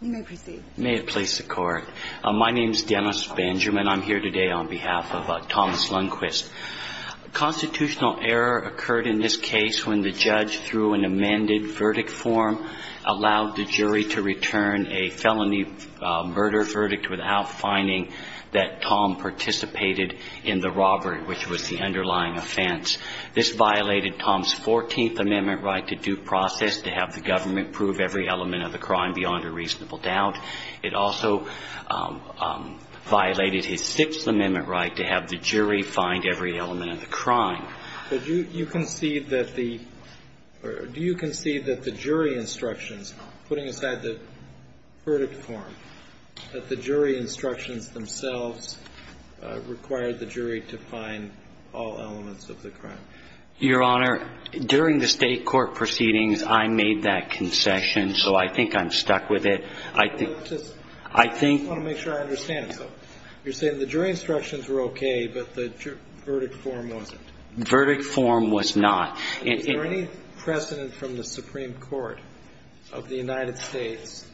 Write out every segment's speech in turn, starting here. You may proceed. May it please the court. My name is Dennis Benjamin. I'm here today on behalf of Thomas Lundquist. A constitutional error occurred in this case when the judge, through an amended verdict form, allowed the jury to return a felony murder verdict without finding that Tom participated in the robbery, which was the underlying offense. This violated Tom's 14th Amendment right to due process to have the government prove every element of the crime beyond a reasonable doubt. It also violated his Sixth Amendment right to have the jury find every element of the crime. But do you concede that the jury instructions, putting aside the verdict form, that the jury instructions themselves required the jury to find all elements of the crime? Your Honor, during the state court proceedings, I made that concession, so I think I'm stuck with it. I just want to make sure I understand. So you're saying the jury instructions were okay, but the verdict form wasn't? Verdict form was not. Is there any precedent from the Supreme Court of the United States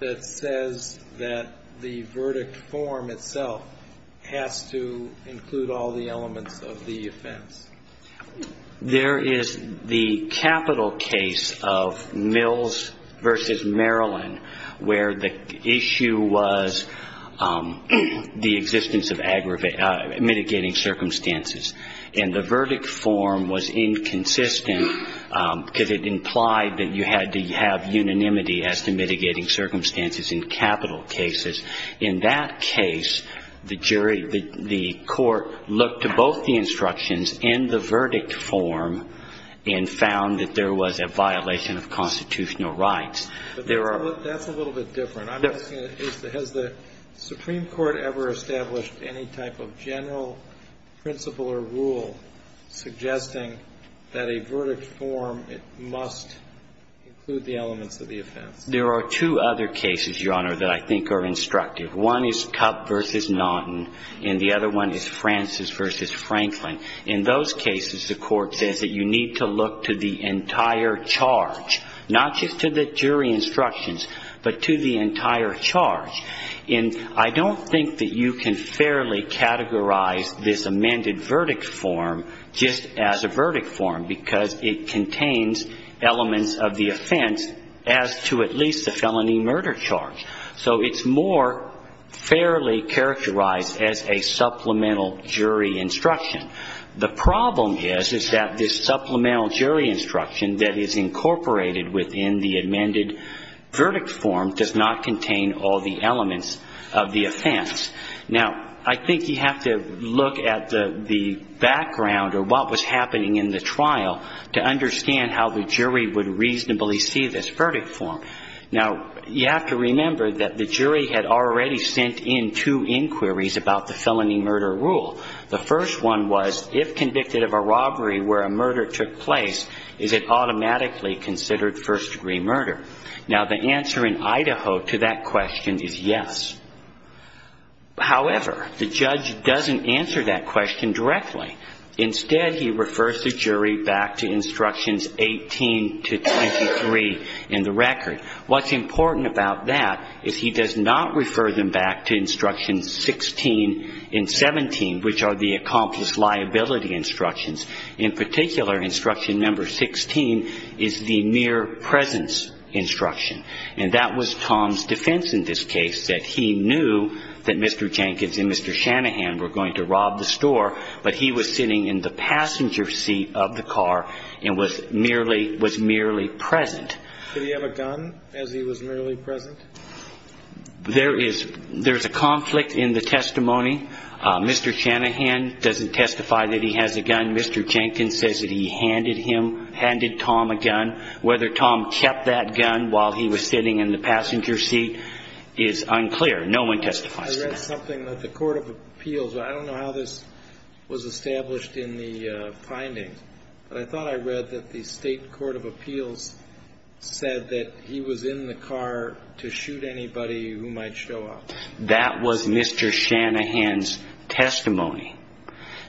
that says that the verdict form itself has to include all the elements of the offense? There is the capital case of Mills v. Maryland where the issue was the existence of mitigating circumstances. And the verdict form was inconsistent because it implied that you had to have unanimity as to mitigating circumstances in capital cases. In that case, the jury, the court looked to both the instructions and the verdict form and found that there was a violation of constitutional rights. But that's a little bit different. I'm asking, has the Supreme Court ever established any type of general principle or rule suggesting that a verdict form must include the elements of the offense? There are two other cases, Your Honor, that I think are instructive. One is Cupp v. Naughton, and the other one is Francis v. Franklin. In those cases, the court says that you need to look to the entire charge, not just to the jury instructions, but to the entire charge. And I don't think that you can fairly categorize this amended verdict form just as a verdict form because it contains elements of the offense as to at least the felony murder charge. So it's more fairly characterized as a supplemental jury instruction. The problem is that this supplemental jury instruction that is incorporated within the amended verdict form does not contain all the elements of the offense. Now, I think you have to look at the background or what was happening in the trial to understand how the jury would reasonably see this verdict form. Now, you have to remember that the jury had already sent in two inquiries about the felony murder rule. The first one was, if convicted of a robbery where a murder took place, is it automatically considered first-degree murder? Now, the answer in Idaho to that question is yes. However, the judge doesn't answer that question directly. Instead, he refers the jury back to instructions 18 to 23 in the record. What's important about that is he does not refer them back to instructions 16 and 17, which are the accomplished liability instructions. In particular, instruction number 16 is the mere presence instruction, and that was Tom's defense in this case, that he knew that Mr. Jenkins and Mr. Shanahan were going to rob the store, but he was sitting in the passenger seat of the car and was merely present. Did he have a gun as he was merely present? There is a conflict in the testimony. Mr. Shanahan doesn't testify that he has a gun. Mr. Jenkins says that he handed him, handed Tom a gun. Whether Tom kept that gun while he was sitting in the passenger seat is unclear. No one testifies to that. I read something that the court of appeals, I don't know how this was established in the findings, but I thought I read that the state court of appeals said that he was in the car to shoot anybody who might show up. That was Mr. Shanahan's testimony.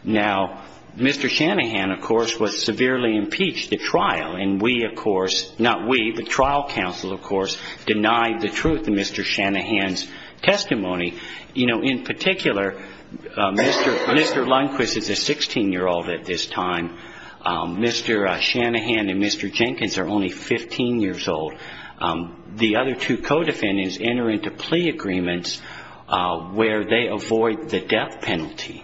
Now, Mr. Shanahan, of course, was severely impeached at trial, and we, of course, not we, but trial counsel, of course, denied the truth in Mr. Shanahan's testimony. You know, in particular, Mr. Lundquist is a 16-year-old at this time. Mr. Shanahan and Mr. Jenkins are only 15 years old. The other two co-defendants enter into plea agreements where they avoid the death penalty.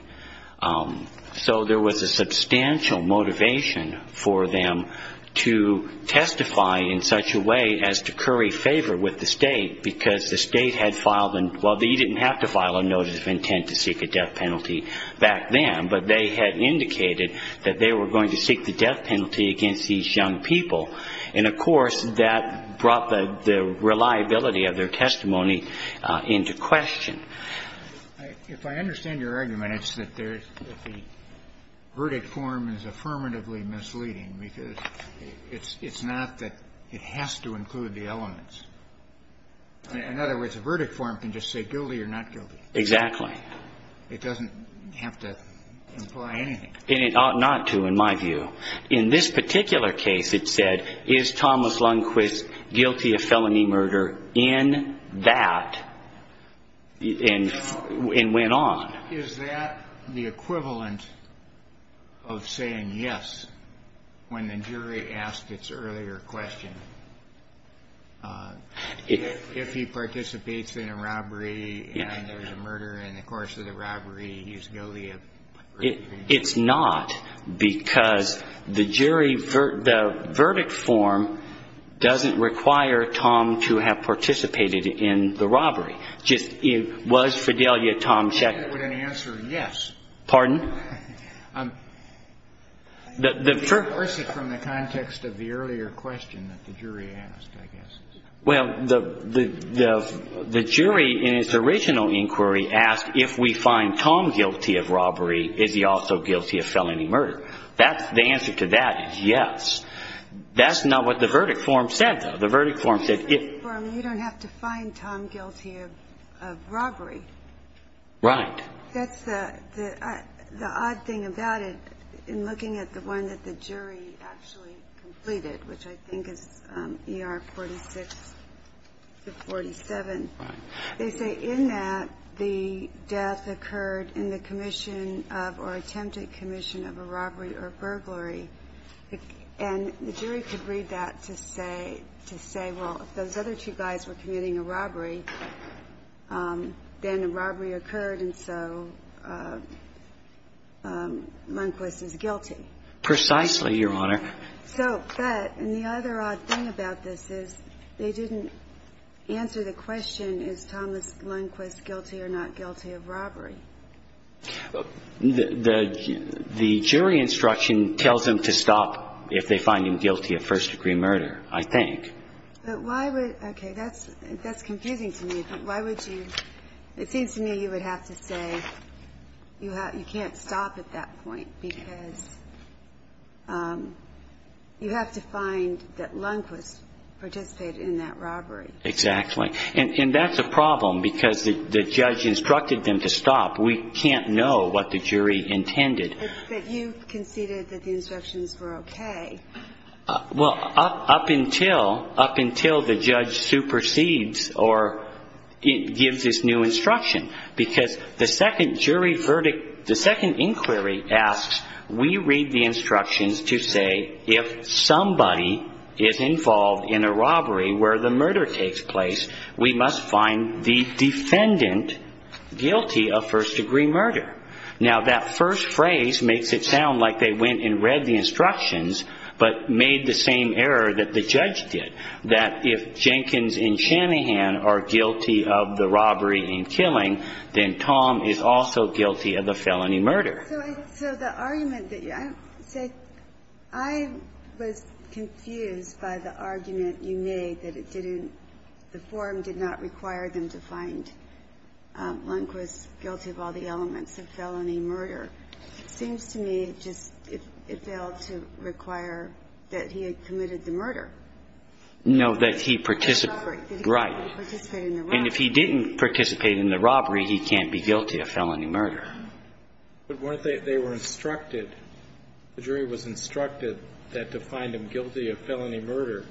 So there was a substantial motivation for them to testify in such a way as to curry favor with the state because the state had filed an, well, they didn't have to file a notice of intent to seek a death penalty back then, but they had indicated that they were going to seek the death penalty against these young people. And, of course, that brought the reliability of their testimony into question. If I understand your argument, it's that the verdict form is affirmatively misleading because it's not that it has to include the elements. In other words, a verdict form can just say guilty or not guilty. Exactly. It doesn't have to imply anything. And it ought not to, in my view. In this particular case, it said, is Thomas Lundquist guilty of felony murder in that, and went on. Is that the equivalent of saying yes when the jury asked its earlier question? If he participates in a robbery and there's a murder, and in the course of the robbery, he's guilty of murder? It's not, because the jury, the verdict form doesn't require Tom to have participated in the robbery. Just, was Fidelio Tom Sheckler? I would answer yes. Pardon? The first is from the context of the earlier question that the jury asked, I guess. Well, the jury in its original inquiry asked, if we find Tom guilty of robbery, is he also guilty of felony murder? The answer to that is yes. That's not what the verdict form said, though. The verdict form said if you don't have to find Tom guilty of robbery. Right. That's the odd thing about it, in looking at the one that the jury actually completed, which I think is ER 46 to 47. Right. They say in that, the death occurred in the commission of or attempted commission of a robbery or burglary. And the jury could read that to say, well, if those other two guys were committing a robbery, then a robbery occurred, and so Lundquist is guilty. Precisely, Your Honor. So, but, and the other odd thing about this is they didn't answer the question, is Thomas Lundquist guilty or not guilty of robbery? The jury instruction tells them to stop if they find him guilty of first-degree murder, I think. But why would, okay, that's confusing to me. But why would you, it seems to me you would have to say you can't stop at that point, because you have to find that Lundquist participated in that robbery. Exactly. And that's a problem, because the judge instructed them to stop. We can't know what the jury intended. But you conceded that the instructions were okay. Well, up until the judge supersedes or gives this new instruction, because the second jury verdict, the second inquiry asks, we read the instructions to say, if somebody is involved in a robbery where the murder takes place, we must find the defendant guilty of first-degree murder. Now, that first phrase makes it sound like they went and read the instructions but made the same error that the judge did, that if Jenkins and Shanahan are guilty of the robbery and killing, then Tom is also guilty of the felony murder. So the argument that you, say, I was confused by the argument you made that it didn't, the form did not require them to find Lundquist guilty of all the elements. It seems to me it just, it failed to require that he had committed the murder. No, that he participated. Right. And if he didn't participate in the robbery, he can't be guilty of felony murder. But weren't they, they were instructed, the jury was instructed that to find him guilty of felony murder,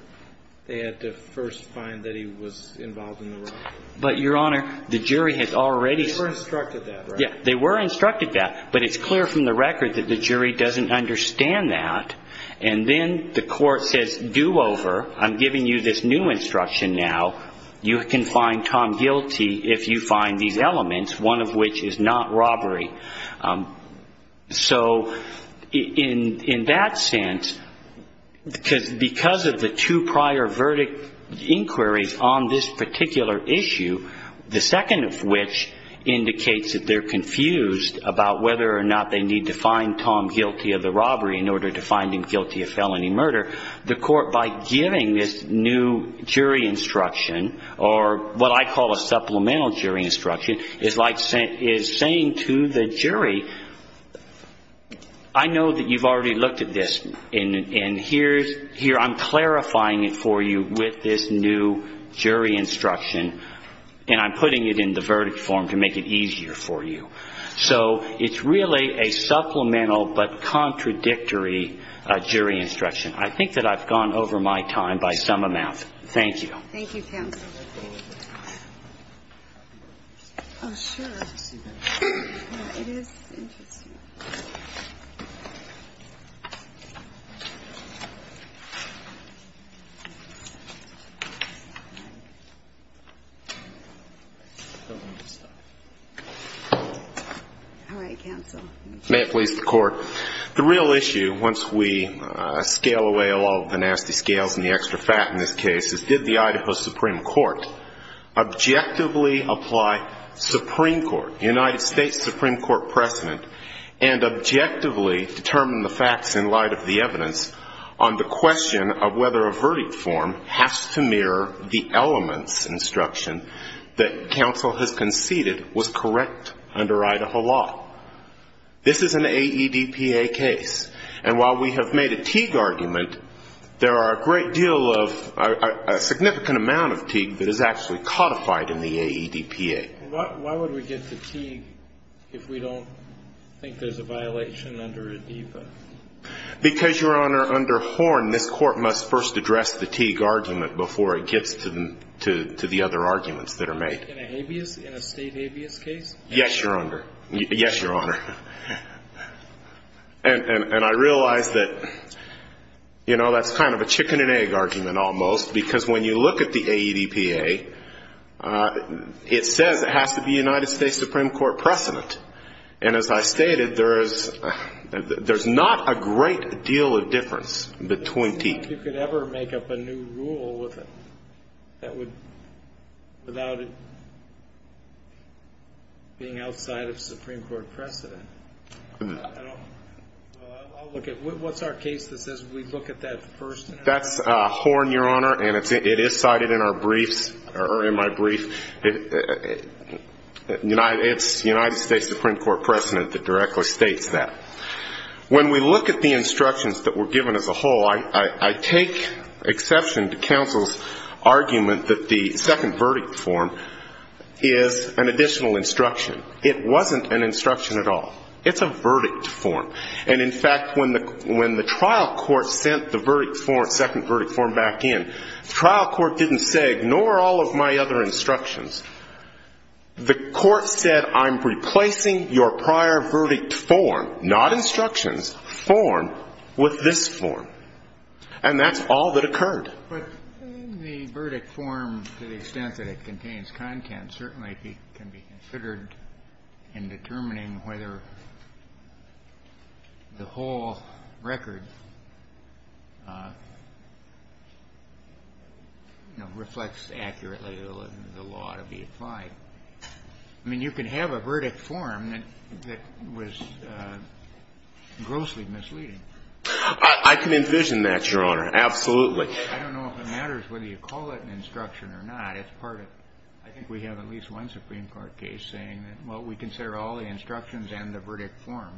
they had to first find that he was involved in the robbery. But, Your Honor, the jury had already. They were instructed that, right? Yeah, they were instructed that. But it's clear from the record that the jury doesn't understand that. And then the court says, do over. I'm giving you this new instruction now. You can find Tom guilty if you find these elements, one of which is not robbery. So in that sense, because of the two prior verdict inquiries on this particular issue, the second of which indicates that they're confused about whether or not they need to find Tom guilty of the robbery in order to find him guilty of felony murder, the court, by giving this new jury instruction, or what I call a supplemental jury instruction, is saying to the jury, I know that you've already looked at this. And here I'm clarifying it for you with this new jury instruction, and I'm putting it in the verdict form to make it easier for you. So it's really a supplemental but contradictory jury instruction. I think that I've gone over my time by some amount. Thank you. Thank you, counsel. Oh, sure. It is interesting. All right, counsel. May it please the Court. The real issue, once we scale away all the nasty scales and the extra fat in this case, is did the Idaho Supreme Court objectively apply Supreme Court, United States Supreme Court precedent, and objectively determine the facts in light of the evidence on the question of whether a verdict form has to mirror the elements instruction that counsel has conceded was correct under Idaho law? This is an AEDPA case. And while we have made a Teague argument, there are a great deal of a significant amount of Teague that is actually codified in the AEDPA. Why would we get to Teague if we don't think there's a violation under ADIPA? Because, Your Honor, under Horn, this Court must first address the Teague argument before it gets to the other arguments that are made. In a state habeas case? Yes, Your Honor. Yes, Your Honor. And I realize that, you know, that's kind of a chicken-and-egg argument almost, because when you look at the AEDPA, it says it has to be United States Supreme Court precedent. And as I stated, there's not a great deal of difference between Teague. I don't think you could ever make up a new rule without it being outside of Supreme Court precedent. I'll look at it. What's our case that says we look at that first? That's Horn, Your Honor, and it is cited in our briefs or in my brief. It's United States Supreme Court precedent that directly states that. When we look at the instructions that were given as a whole, I take exception to counsel's argument that the second verdict form is an additional instruction. It wasn't an instruction at all. It's a verdict form. And, in fact, when the trial court sent the second verdict form back in, the trial court didn't say, ignore all of my other instructions. The court said, I'm replacing your prior verdict form, not instructions, form, with this form. And that's all that occurred. But the verdict form, to the extent that it contains content, certainly can be considered in determining whether the whole record reflects accurately the law to be applied. I mean, you can have a verdict form that was grossly misleading. I can envision that, Your Honor. Absolutely. I don't know if it matters whether you call it an instruction or not. It's part of it. I think we have at least one Supreme Court case saying that, well, we consider all the instructions and the verdict form.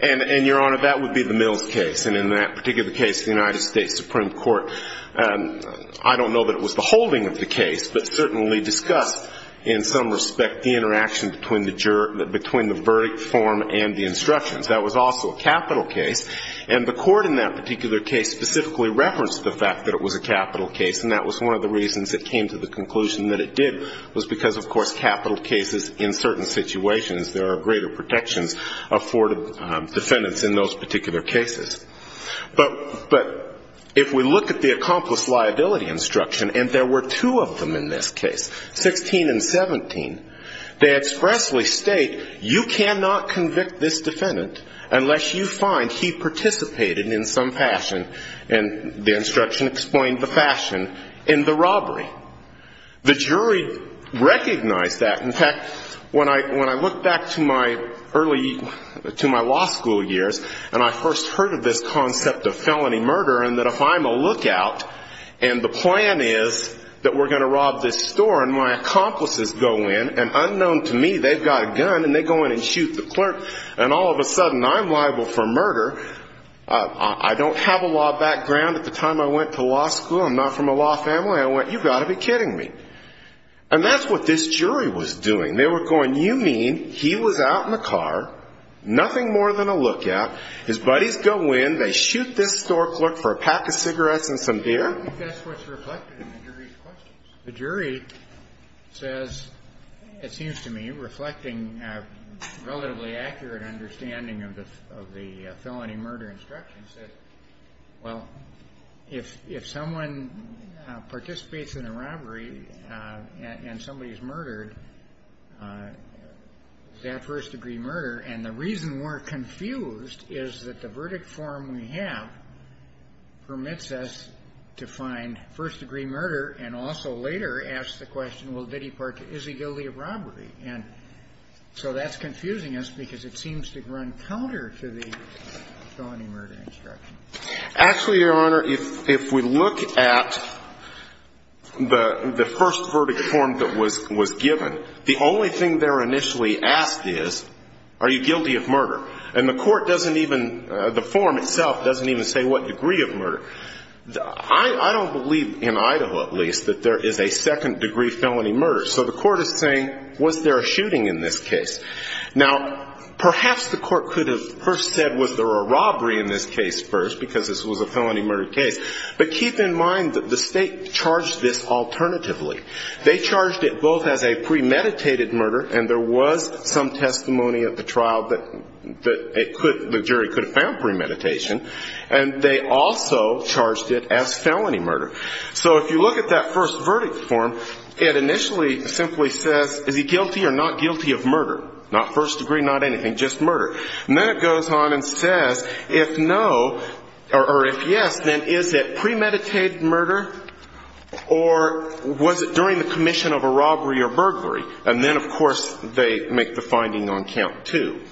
And, Your Honor, that would be the Mills case. And in that particular case, the United States Supreme Court, I don't know that it was the holding of the case, but certainly discussed in some respect the interaction between the verdict form and the instructions. That was also a capital case. And the court in that particular case specifically referenced the fact that it was a capital case, and that was one of the reasons it came to the conclusion that it did, was because, of course, capital cases in certain situations, there are greater protections afforded defendants in those particular cases. But if we look at the accomplice liability instruction, and there were two of them in this case, 16 and 17, they expressly state, you cannot convict this defendant unless you find he participated in some fashion, and the instruction explained the fashion, in the robbery. The jury recognized that. In fact, when I look back to my early, to my law school years, and I first heard of this concept of felony murder, and that if I'm a lookout, and the plan is that we're going to rob this store, and my accomplices go in, and unknown to me, they've got a gun, and they go in and shoot the clerk, and all of a sudden I'm liable for murder. I don't have a law background. At the time I went to law school, I'm not from a law family. I went, you've got to be kidding me. And that's what this jury was doing. They were going, you mean he was out in the car, nothing more than a lookout, his buddies go in, they shoot this store clerk for a pack of cigarettes and some beer? I think that's what's reflected in the jury's questions. The jury says, it seems to me, reflecting a relatively accurate understanding of the felony murder instruction, says, well, if someone participates in a robbery, and somebody's murdered, is that first-degree murder? And the reason we're confused is that the verdict form we have permits us to find first-degree murder, and also later asks the question, well, did he participate, is he guilty of robbery? And so that's confusing us, because it seems to run counter to the felony murder instruction. Actually, Your Honor, if we look at the first verdict form that was given, the only thing they're initially asked is, are you guilty of murder? And the court doesn't even, the form itself doesn't even say what degree of murder. I don't believe, in Idaho at least, that there is a second-degree felony murder. So the court is saying, was there a shooting in this case? Now, perhaps the court could have first said, was there a robbery in this case first, because this was a felony murder case. But keep in mind that the state charged this alternatively. They charged it both as a premeditated murder, and there was some testimony at the trial that the jury could have found premeditation. And they also charged it as felony murder. So if you look at that first verdict form, it initially simply says, is he guilty or not guilty of murder? Not first degree, not anything, just murder. And then it goes on and says, if no, or if yes, then is it premeditated murder, or was it during the commission of a robbery or burglary? And then, of course, they make the finding on count two.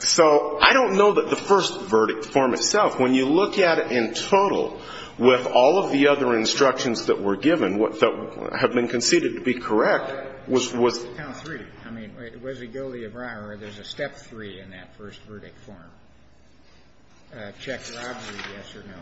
So I don't know that the first verdict form itself, when you look at it in total with all of the other instructions that were given, that have been conceded to be correct, was the count three. I mean, was he guilty of robbery? There's a step three in that first verdict form, check robbery, yes or no.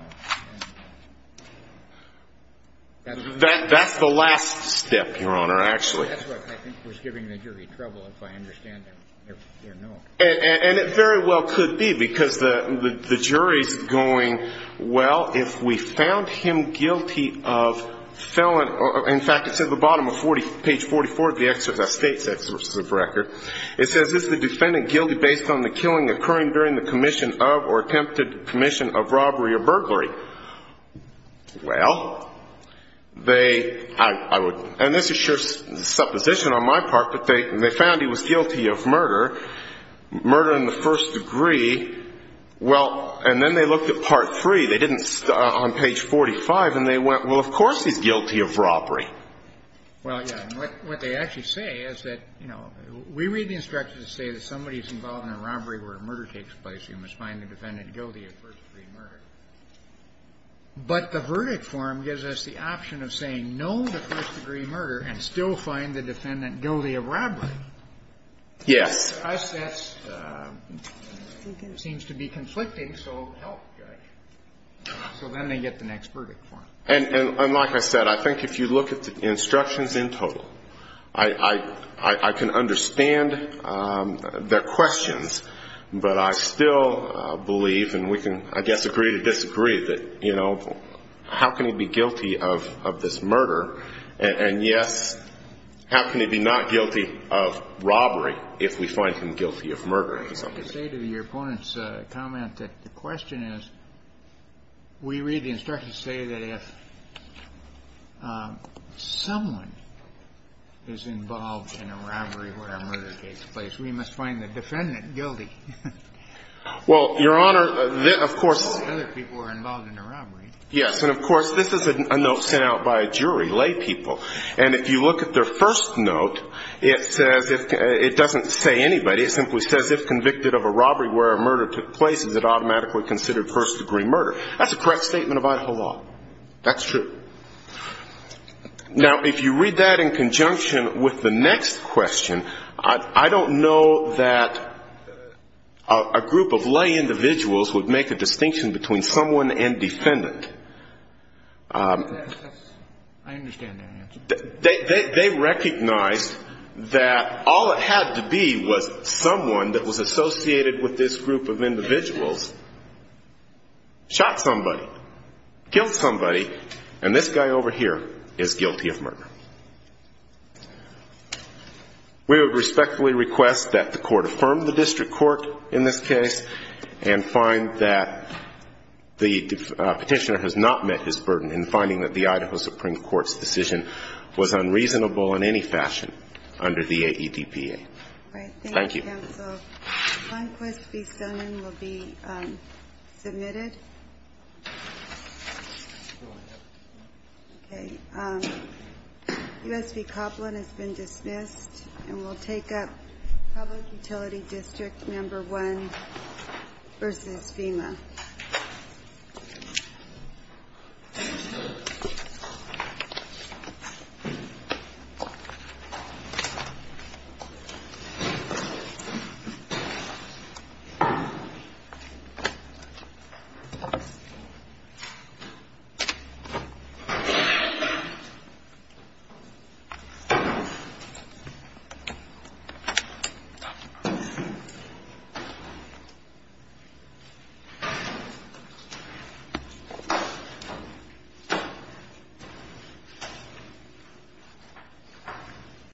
That's the last step, Your Honor, actually. That's what I think was giving the jury trouble, if I understand it, yes or no. And it very well could be, because the jury's going, well, if we found him guilty of felon or, in fact, it's at the bottom of 40, page 44 of the state's exorcism record. It says, is the defendant guilty based on the killing occurring during the commission of or attempted commission of robbery or burglary? Well, they, I would, and this is sure supposition on my part, but they found he was guilty of murder, murder in the first degree. Well, and then they looked at part three. They didn't, on page 45, and they went, well, of course he's guilty of robbery. Well, yeah, and what they actually say is that, you know, we read the instructions to say that somebody's involved in a robbery where a murder takes place, you must find the defendant guilty of first-degree murder. But the verdict form gives us the option of saying no to first-degree murder and still find the defendant guilty of robbery. Yes. To us, that seems to be conflicting, so help, Judge. So then they get the next verdict form. And like I said, I think if you look at the instructions in total, I can understand their questions, but I still believe, and we can, I guess, agree to disagree, that, you know, how can he be guilty of this murder? And, yes, how can he be not guilty of robbery if we find him guilty of murder? I can say to your opponent's comment that the question is, we read the instructions to say that if someone is involved in a robbery where a murder takes place, we must find the defendant guilty. Well, Your Honor, of course other people are involved in a robbery. Yes. And, of course, this is a note sent out by a jury, laypeople. And if you look at their first note, it says it doesn't say anybody. It simply says, if convicted of a robbery where a murder took place, is it automatically considered first-degree murder. That's a correct statement of Idaho law. That's true. Now, if you read that in conjunction with the next question, I don't know that a group of lay individuals would make a distinction between someone and defendant. I understand that answer. They recognized that all it had to be was someone that was associated with this group of individuals, and they were not somebody. Killed somebody, and this guy over here is guilty of murder. We would respectfully request that the Court affirm the district court in this case and find that the petitioner has not met his burden in finding that the Idaho Supreme Court's decision was unreasonable in any fashion under the AEDPA. Thank you. Thank you, counsel. Klonquist v. Stoneman will be submitted. Okay. U.S. v. Copeland has been dismissed, and we'll take up Public Utility District Number 1 v. FEMA. Thank you.